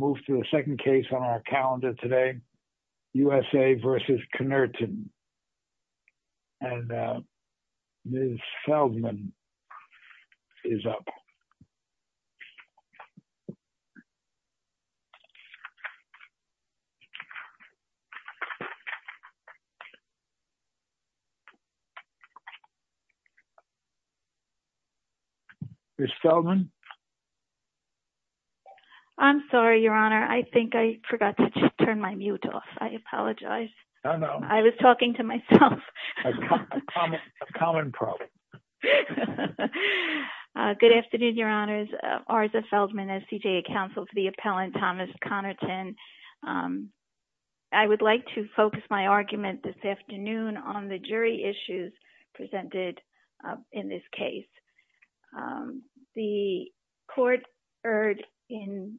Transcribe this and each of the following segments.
Ms. Feldman is up. Ms. Feldman? I'm sorry, Your Honor. I think I forgot to turn my mute off. I apologize. I was talking to myself. A common problem. Good afternoon, Your Honors. Arza Feldman, SCJA Counsel for the Appellant Thomas Connerton. I would like to focus my argument this afternoon on the jury issues presented in this case. The court erred in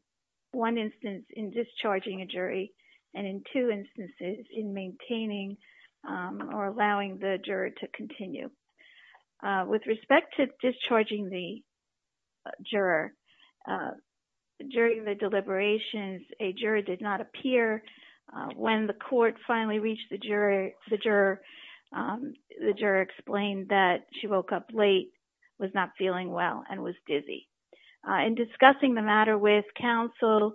one instance in discharging a jury and in two instances in maintaining or allowing the juror to continue. With respect to discharging the juror, during the deliberations a juror did not appear. When the court finally reached the juror, the juror explained that she woke up late, was not feeling well, and was dizzy. In discussing the matter with counsel,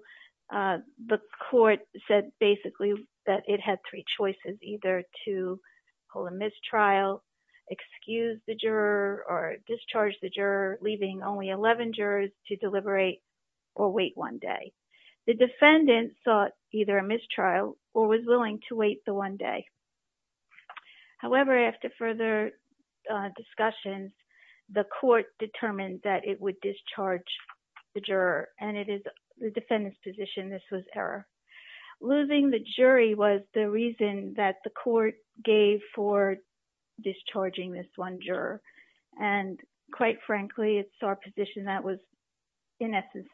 the court said basically that it had three choices, either to hold a mistrial, excuse the juror, or discharge the juror, leaving only 11 jurors to deliberate or wait one day. The defendant sought either a mistrial or was willing to wait the one day. However, after further discussions, the court determined that it would discharge the juror. And it is the defendant's position this was error. Losing the jury was the reason that the court gave for discharging this one juror. And quite frankly, it's our position that was in essence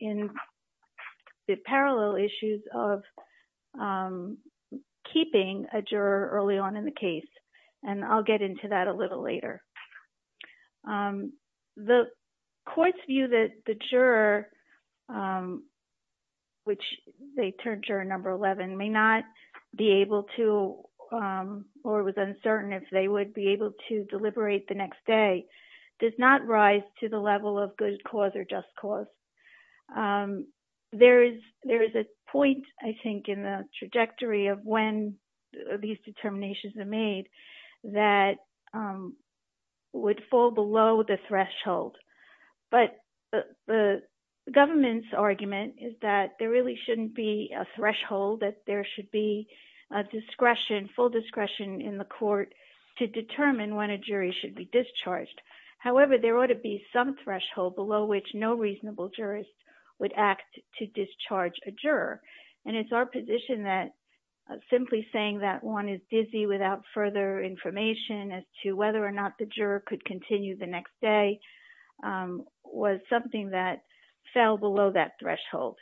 in the parallel issues of keeping a juror early on in the case. And I'll get into that a little later. The court's view that the juror, which they termed juror number 11, may not be able to or was uncertain if they would be able to deliberate the next day, does not rise to the level of good cause or just cause. There is a point, I think, in the trajectory of when these determinations are made that would fall below the threshold. But the government's argument is that there really shouldn't be a threshold, that there should be a discretion, full discretion, in the court to determine when a jury should be discharged. However, there ought to be some threshold below which no reasonable jurist would act to discharge a juror. And it's our position that simply saying that one is dizzy without further information as to whether or not the juror could continue the next day was something that fell below that threshold.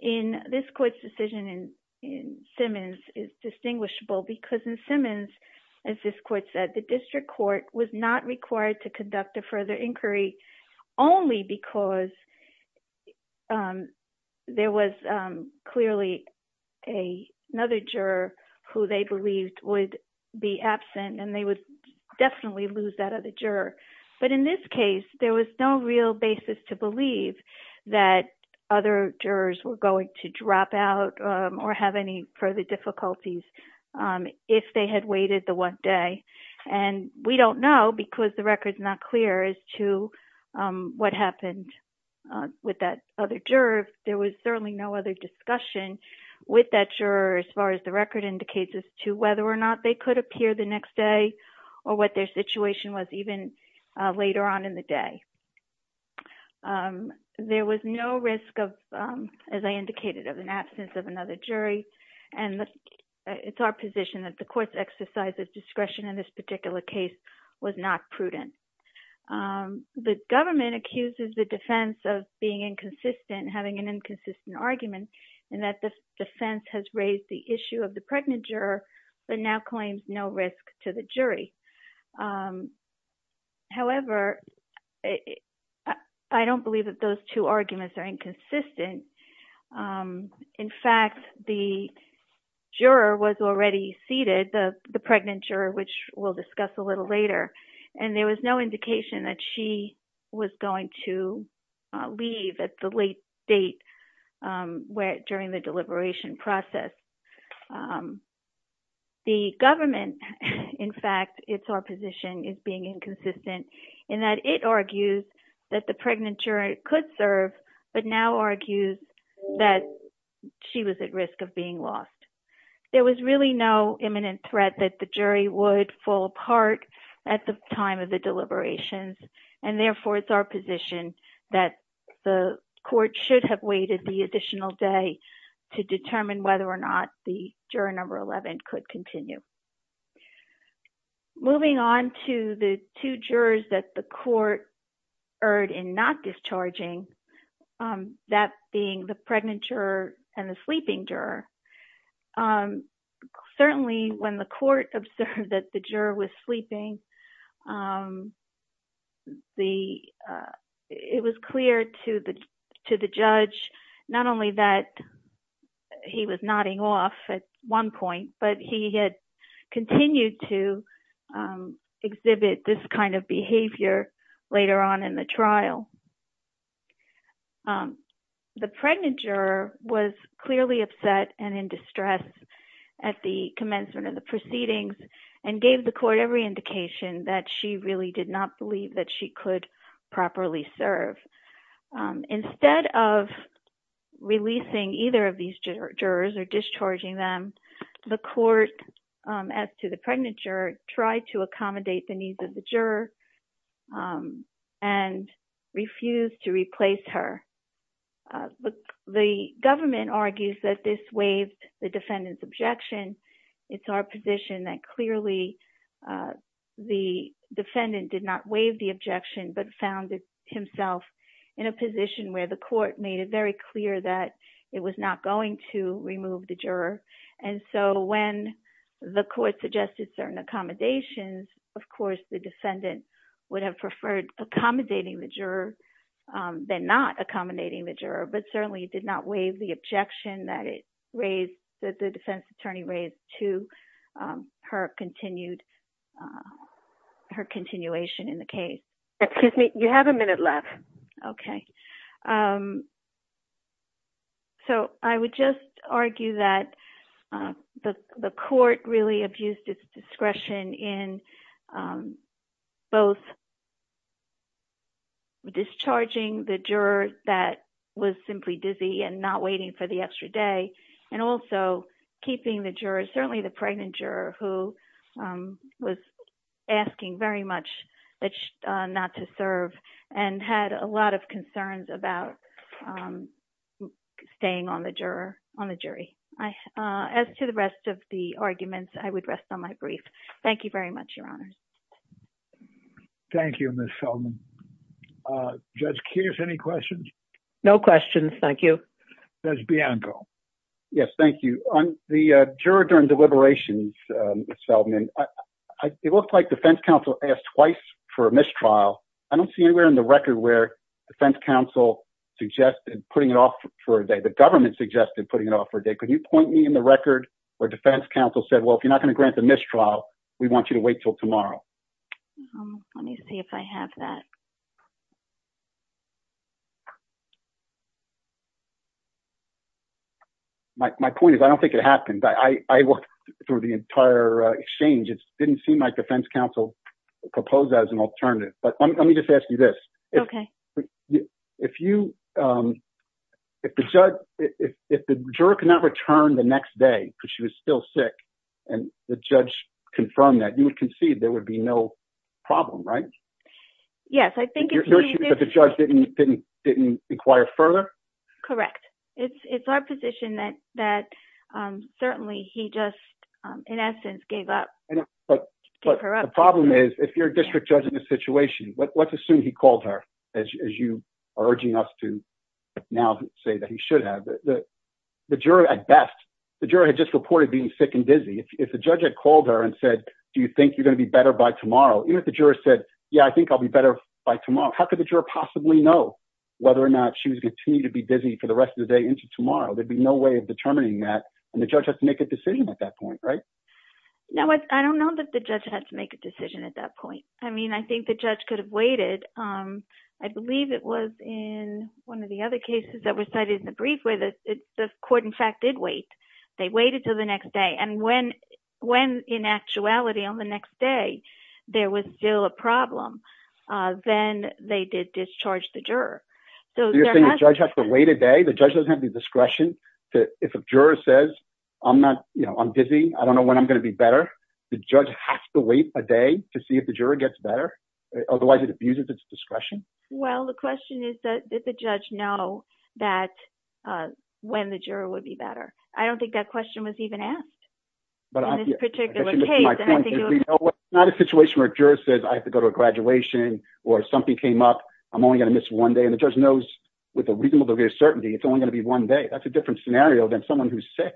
In this court's decision, in Simmons, is distinguishable because in Simmons, as this court said, the district court was not to conduct a further inquiry only because there was clearly another juror who they believed would be absent and they would definitely lose that other juror. But in this case, there was no real basis to believe that other jurors were going to drop out or have any further difficulties if they had waited the one day. And we don't know because the record's not clear as to what happened with that other juror. There was certainly no other discussion with that juror as far as the record indicates as to whether or not they could appear the next day or what their situation was even later on in the day. There was no risk of, as I indicated, of an absence of another jury. And it's our position that the court's exercise of discretion in this particular case was not prudent. The government accuses the defense of being inconsistent, having an inconsistent argument, and that the defense has raised the issue of the pregnant juror, but now claims no risk to the jury. However, I don't believe that those two arguments are inconsistent. In fact, the juror was already seated, the pregnant juror, which we'll discuss a little later, and there was no indication that she was going to leave at the late date during the deliberation process. The government, in fact, it's our position, is being inconsistent in that it argues that the pregnant juror could serve, but now argues that she was at risk of being lost. There was really no imminent threat that the jury would fall apart at the time of the deliberations, and therefore it's our position that the court should have waited the additional day to determine whether or not the two jurors that the court erred in not discharging, that being the pregnant juror and the sleeping juror. Certainly, when the court observed that the juror was sleeping, it was clear to the behavior later on in the trial. The pregnant juror was clearly upset and in distress at the commencement of the proceedings, and gave the court every indication that she really did not believe that she could properly serve. Instead of releasing either of these jurors or discharging them, the court, as to the pregnant juror, tried to accommodate the needs of the juror and refused to replace her. The government argues that this waived the defendant's objection. It's our position that clearly the defendant did not waive the objection, but found himself in a situation where the court suggested certain accommodations. Of course, the defendant would have preferred accommodating the juror than not accommodating the juror, but certainly did not waive the objection that the defense attorney raised to her continuation in the case. You have a minute left. Okay. I would just argue that the court really abused its discretion in both discharging the juror that was simply dizzy and not waiting for the extra day, and also keeping the juror, certainly the pregnant juror, who was asking very much not to serve and had a lot of concerns about staying on the jury. As to the rest of the arguments, I would rest on my brief. Thank you very much, Your Honor. Thank you, Ms. Selman. Judge Keyes, any questions? No questions. Thank you. Judge Bianco. Yes, thank you. On the juror during deliberations, Ms. Selman, it looked like defense counsel asked twice for a mistrial. I don't see anywhere in the record where defense counsel suggested putting it off for a day. The government suggested putting it off for a day. Could you point me in the record where defense counsel said, well, if you're not going to grant the mistrial, we want you to wait until tomorrow? Let me see if I have that. My point is, I don't think it happened. I looked through the entire exchange. It didn't seem like defense counsel proposed that as an alternative. Let me just ask you this. If the juror could not return the next day because she was still sick and the judge confirmed that, you would concede there would be no problem, right? Yes, I think it's easy. The judge didn't inquire further? Correct. It's our position that certainly he just, in essence, gave up. The problem is, if you're a district judge in this situation, let's assume he called her, as you are urging us to now say that he should have. The juror, at best, the juror had just reported being sick and dizzy. If the judge had called her and said, do you think you're going to be better by tomorrow? Even if the juror said, yeah, I think I'll be better by tomorrow, how could the juror possibly know whether or not she was going to continue to be dizzy for the rest of the day into tomorrow? There'd be no way of determining that, and the judge has to make a decision at that point, right? No, I don't know that the judge had to make a decision at that point. I mean, I think the judge could have waited. I believe it was in one of the other cases that were cited in the brief where the court, in fact, did wait. They waited till next day, and when in actuality, on the next day, there was still a problem, then they did discharge the juror. So you're saying the judge has to wait a day? The judge doesn't have the discretion to, if a juror says, I'm not, you know, I'm dizzy, I don't know when I'm going to be better, the judge has to wait a day to see if the juror gets better? Otherwise, it abuses its discretion? Well, the question is, did the judge know that when the juror would be better? I don't think that question was even asked in this particular case. It's not a situation where a juror says, I have to go to a graduation, or something came up, I'm only going to miss one day, and the judge knows with a reasonable degree of certainty, it's only going to be one day. That's a different scenario than someone who's sick,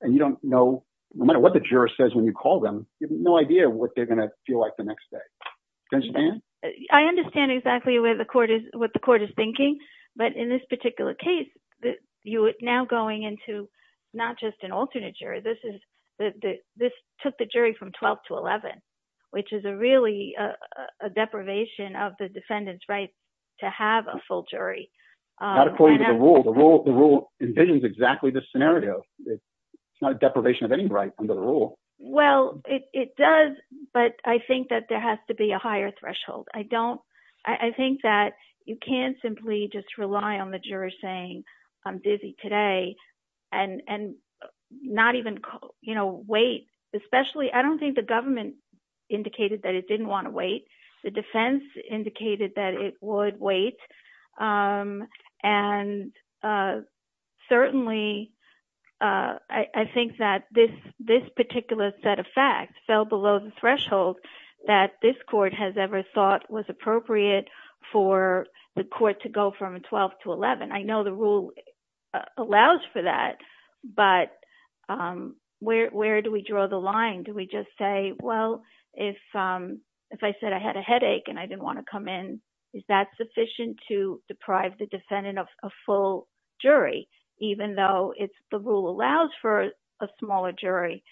and you don't know, no matter what the juror says when you call them, you have no idea what they're going to feel like the next day. I understand exactly what the court is thinking, but in this particular case, you are now going into not just an alternate jury, this took the jury from 12 to 11, which is really a deprivation of the defendant's right to have a full jury. Not according to the rule. The rule envisions exactly this scenario. It's not a deprivation of any right under the rule. Well, it does, but I think that there has to be a higher threshold. I think that you can't simply just rely on the juror saying, I'm busy today, and not even wait, especially, I don't think the government indicated that it didn't want to wait. The defense indicated that it would wait, and certainly, I think that this particular set of facts fell below the threshold that this court has ever thought was appropriate for the court to go from 12 to 11. I know the rule allows for that, but where do we draw the line? Do we just say, well, if I said I had a headache and I didn't want to come in, is that sufficient to deprive the defendant of a full jury, even though the rule allows for a smaller jury?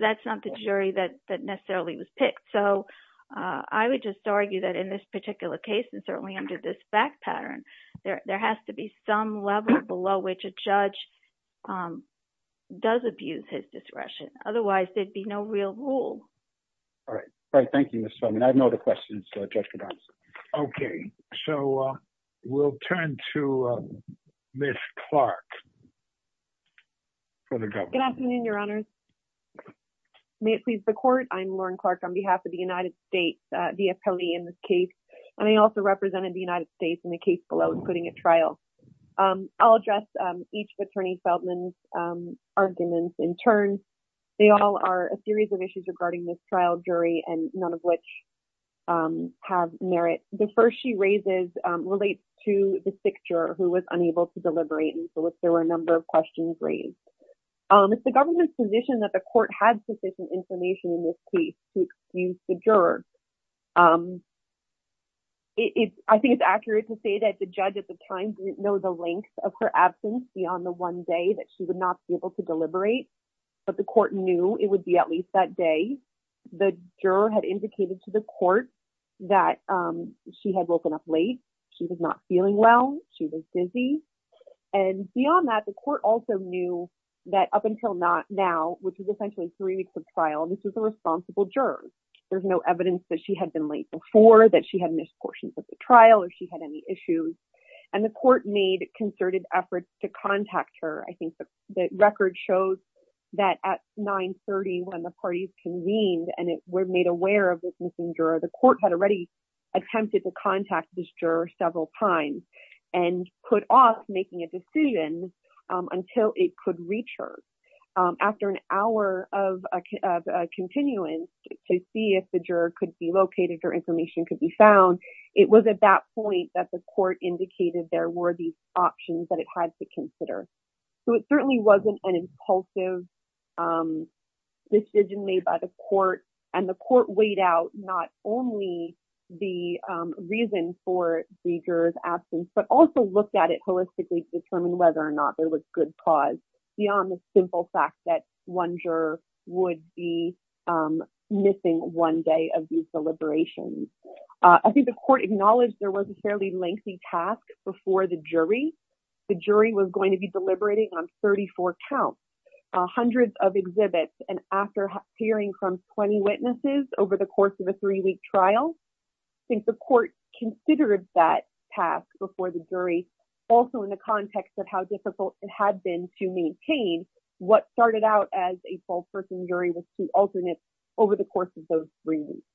That's not the jury that necessarily was picked. I would just argue that in this particular case, and certainly under this fact pattern, there has to be some level below which a judge does abuse his discretion. Otherwise, there'd be no real rule. All right. Thank you, Ms. Feldman. I have no other questions that the judge could answer. Okay. We'll turn to Ms. Clark for the government. Good afternoon, Your Honors. May it please the court, I'm Lauren Clark on behalf of the United States, the appellee in this case. I also represented the United States in the case below including at trial. I'll address each of Attorney Feldman's arguments in turn. They all are a series of issues regarding this trial jury, and none of which have merit. The first she raises relates to the sick juror who was unable to deliberate, and so there were a number of questions raised. It's the government's position that the court had sufficient information in this case to excuse the juror. I think it's accurate to say that the judge at the time didn't know the length of her absence beyond the one day that she would not be able to deliberate. But the court knew it would be at least that day. The juror had indicated to the court that she had woken up late. She was not feeling well. She was dizzy. And beyond that, the court also knew that up until now, which is essentially three weeks of trial, this is a responsible juror. There's no evidence that she had been late before, that she had missed portions of the trial, or she had any issues. And the court made concerted efforts to contact her. I think the record shows that at 9.30, when the parties convened and were made aware of this missing juror, the court had already attempted to contact this juror several times and put off making a decision until it could reach her. After an hour of continuance to see if the juror could be located or information could be found, it was at that point that the court indicated there were these considerations. So it certainly wasn't an impulsive decision made by the court. And the court weighed out not only the reason for the juror's absence, but also looked at it holistically to determine whether or not there was good cause beyond the simple fact that one juror would be missing one day of these deliberations. I think the court acknowledged there was a fairly lengthy task before the jury. The jury was going to be deliberating on 34 counts, hundreds of exhibits, and after hearing from 20 witnesses over the course of a three-week trial, I think the court considered that task before the jury, also in the context of how difficult it had been to maintain what started out as a 12-person jury was to alternate over the course of those three weeks.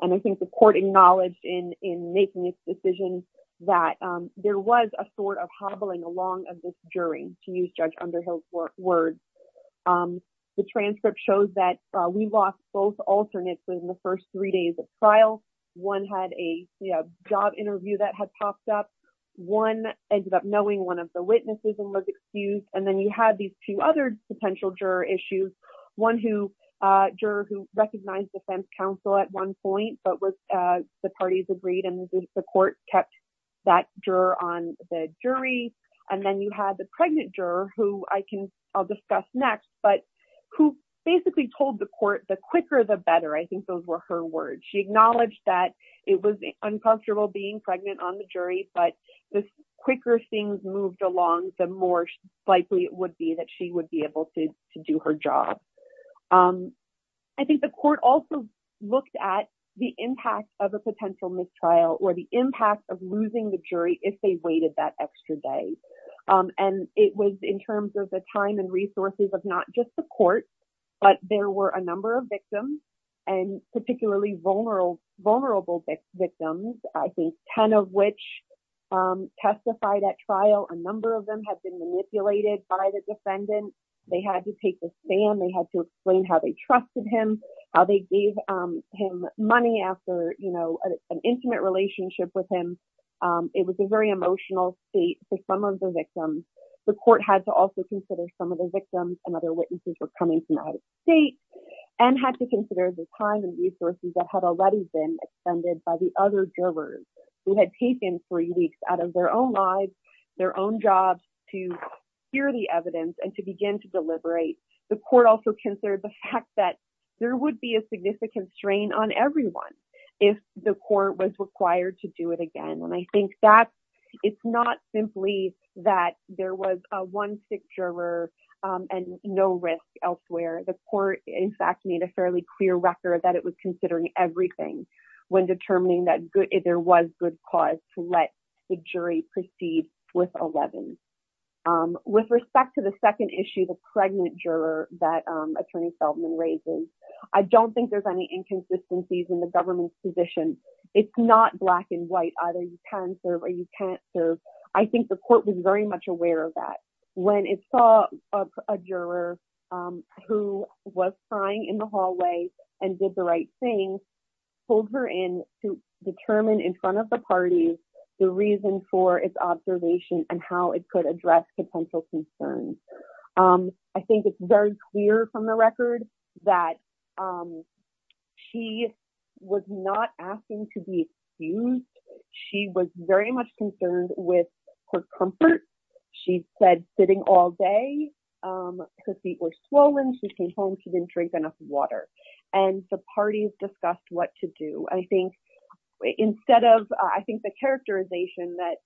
And I think the court acknowledged in making its decision that there was a sort of hobbling along of this jury, to use Judge Underhill's words. The transcript shows that we lost both alternates within the first three days of trial. One had a job interview that had popped up. One ended up knowing one of the witnesses and was excused. And then you had these two other potential juror issues. One juror who recognized defense counsel at one point, but the parties agreed, and the court kept that juror on the jury. And then you had the pregnant juror, who I'll discuss next, but who basically told the court, the quicker, the better. I think those were her words. She acknowledged that it was uncomfortable being pregnant on the jury, but the quicker things moved along, the more likely it would be that she would be able to do her job. I think the court also looked at the impact of a potential mistrial or the impact of losing the jury if they waited that extra day. And it was in terms of the time and resources of not just the court, but there were a number of victims, and particularly vulnerable victims, I think, 10 of which testified at trial. A number of them had been manipulated by the defendant. They had to take the stand. They had to explain how they trusted him, how they gave him money after an intimate relationship with him. It was a very emotional state for some of the victims. The court had to also consider some of the victims and other witnesses were coming from out of state and had to consider the time and resources that had already been extended by the other jurors. They had taken three weeks out of their own lives, their own jobs to hear the evidence and to begin to deliberate. The court also considered the fact that there would be a significant strain on everyone if the court was required to do it again. And I think that it's not simply that there was one sick juror and no risk elsewhere. The court, in fact, made a fairly clear record that it was considering everything when determining that there was good cause to let the jury proceed with 11. With respect to the second issue, the pregnant juror that Attorney Feldman raises, I don't think there's any inconsistencies in the government's position. It's not black and white. Either you can serve or you can't serve. I think the court was very aware of that. When it saw a juror who was crying in the hallway and did the right thing, pulled her in to determine in front of the parties the reason for its observation and how it could address potential concerns. I think it's very clear from the record that she was not asking to be excused. She was very much concerned with her comfort. She said sitting all day, her feet were swollen, she came home, she didn't drink enough water. And the parties discussed what to do. I think instead of, I think the characterization that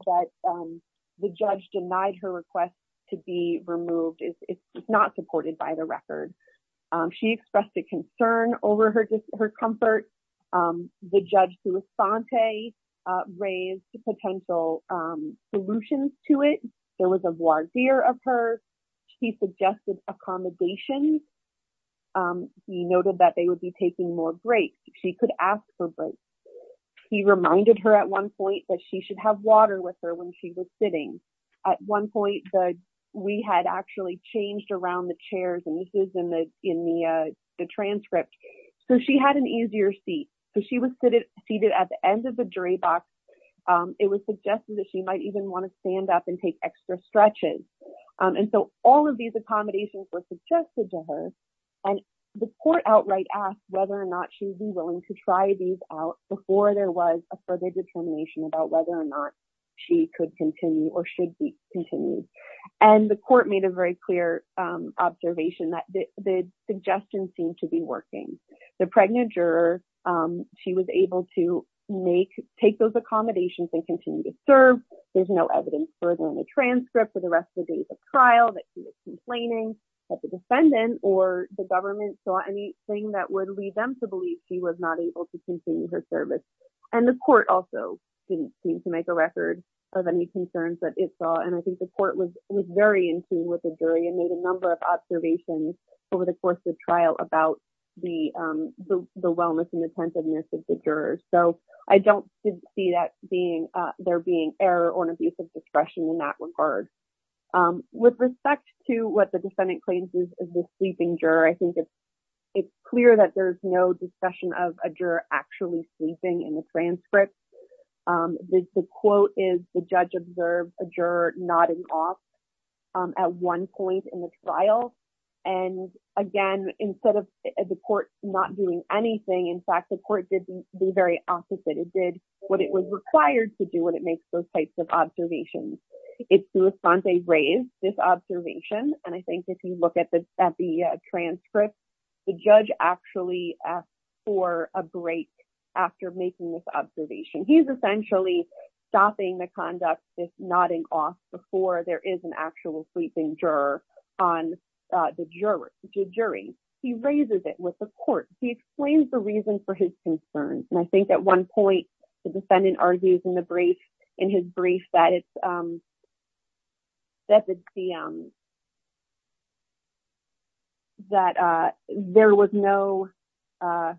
the judge denied her request to be removed is not supported by the record. She expressed a concern over her comfort. The judge raised potential solutions to it. There was a voir dire of her. He suggested accommodations. He noted that they would be taking more breaks. She could ask for breaks. He reminded her at one point that she should have water with her when she was sitting. At one point, we had actually changed around the chairs, and this is in the transcript. She had an easier seat. She was seated at the end of the jury box. It was suggested that she might even want to stand up and take extra stretches. All of these accommodations were suggested to her. The court outright asked whether or not she would be willing to try these out before there was a further determination about whether or not she could continue or should be The pregnant juror, she was able to take those accommodations and continue to serve. There's no evidence further in the transcript for the rest of the trial that she was complaining that the defendant or the government saw anything that would lead them to believe she was not able to continue her service. The court also didn't seem to make a record of any concerns that it saw. I think the court was very in tune with the jury and made a number of observations over the course of trial about the wellness and attentiveness of the jurors. I don't see there being error or an abuse of discretion in that regard. With respect to what the defendant claims is the sleeping juror, I think it's clear that there's no discussion of a juror actually sleeping in the transcript. The quote is the judge observed a juror nodding off at one point in the trial. And again, instead of the court not doing anything, in fact, the court did the very opposite. It did what it was required to do when it makes those types of observations. It's the response they raise this observation. And I think if you look at the transcript, the judge actually asked for a break after making this observation. He's essentially stopping the conduct, this nodding off before there is an actual sleeping juror on the jury. He raises it with the court. He explains the reason for his concerns. And I think at one point, the defendant argues in the brief, in his brief that it's that there was no, oh,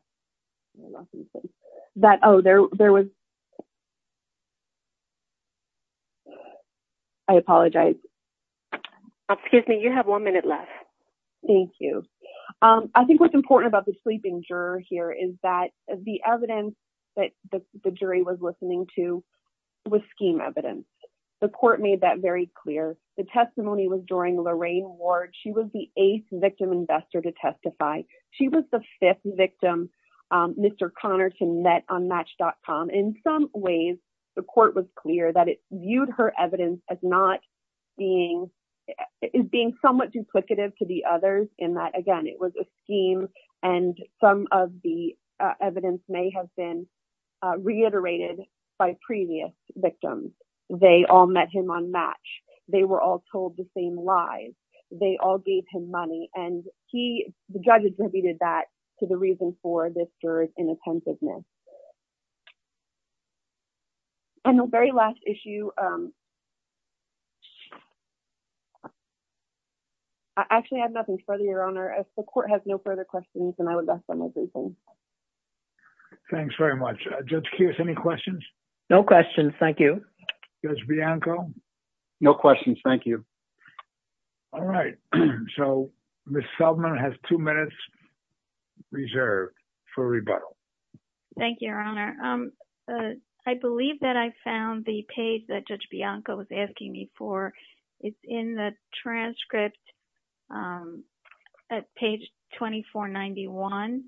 there was, I apologize. Excuse me, you have one minute left. Thank you. I think what's important about the sleeping juror here is that the evidence that the jury was listening to was scheme evidence. The court made that very clear. The testimony was during Lorraine Ward. She was the eighth victim investor to testify. She was the fifth victim Mr. Connerton met on match.com. In some ways, the court was clear that it viewed her evidence as not being, is being somewhat duplicative to the others in that, again, it was a scheme and some of the evidence may have been reiterated by previous victims. They all met him on match. They were told the same lies. They all gave him money. And he, the judge attributed that to the reason for this juror's inattentiveness. And the very last issue, I actually have nothing further, Your Honor. If the court has no further questions, then I would like to end my briefing. Thanks very much. Judge Kearse, any questions? No questions. Thank you. Judge Bianco? No questions. Thank you. All right. So, Ms. Selvman has two minutes reserved for rebuttal. Thank you, Your Honor. I believe that I found the page that Judge Bianco was asking me for. It's in the transcript at page 2491,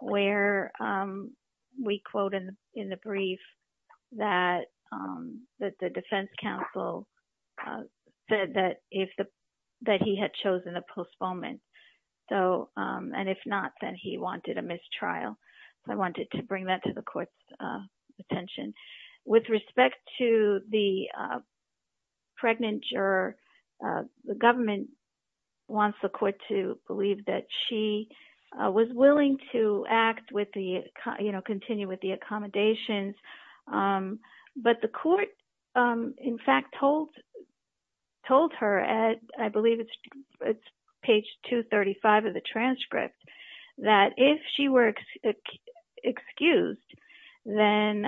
where we quote in the brief that the defense counsel said that if the, that he had chosen a postponement. So, and if not, then he wanted a mistrial. I wanted to bring that to the court's attention. With respect to the pregnant juror, the government wants the court to believe that she was willing to act with the, you know, continue with the accommodations. But the court, in fact, told her at, I believe it's page 235 of the transcript, that if she were excused, then,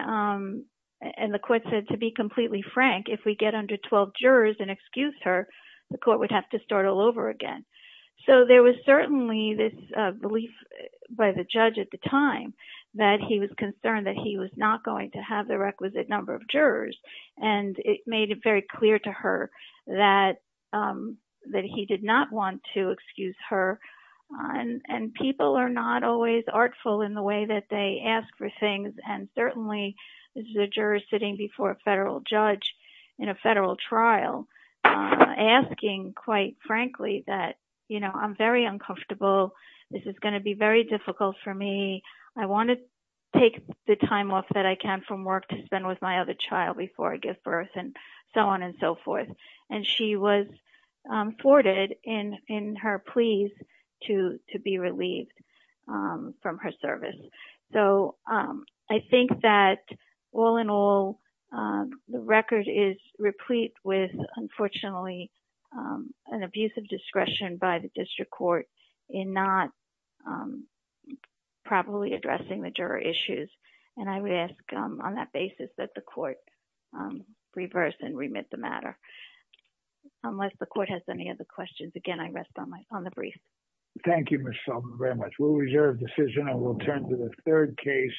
and the court said to be completely frank, if we get under 12 jurors and excuse her, the court would have to start all over again. So, there was certainly this belief by the judge at the time that he was concerned that he was not going to have the requisite number of jurors. And it made it very clear to her that he did not want to excuse her. And people are not always artful in the way that they ask for things. And certainly, this is a juror sitting before a federal judge in a federal trial asking, quite frankly, that, you know, I'm very uncomfortable. This is going to be very difficult for me. I want to take the time off that I can from work to spend with my other child before I give birth and so on and so forth. So, I think that, all in all, the record is replete with, unfortunately, an abuse of discretion by the district court in not properly addressing the juror issues. And I would ask on that basis that the court reverse and remit the matter. Unless the court has any other questions. Again, I rest on the brief. Thank you, Ms. Sullivan, very much. We'll reserve decision and we'll turn to the third case.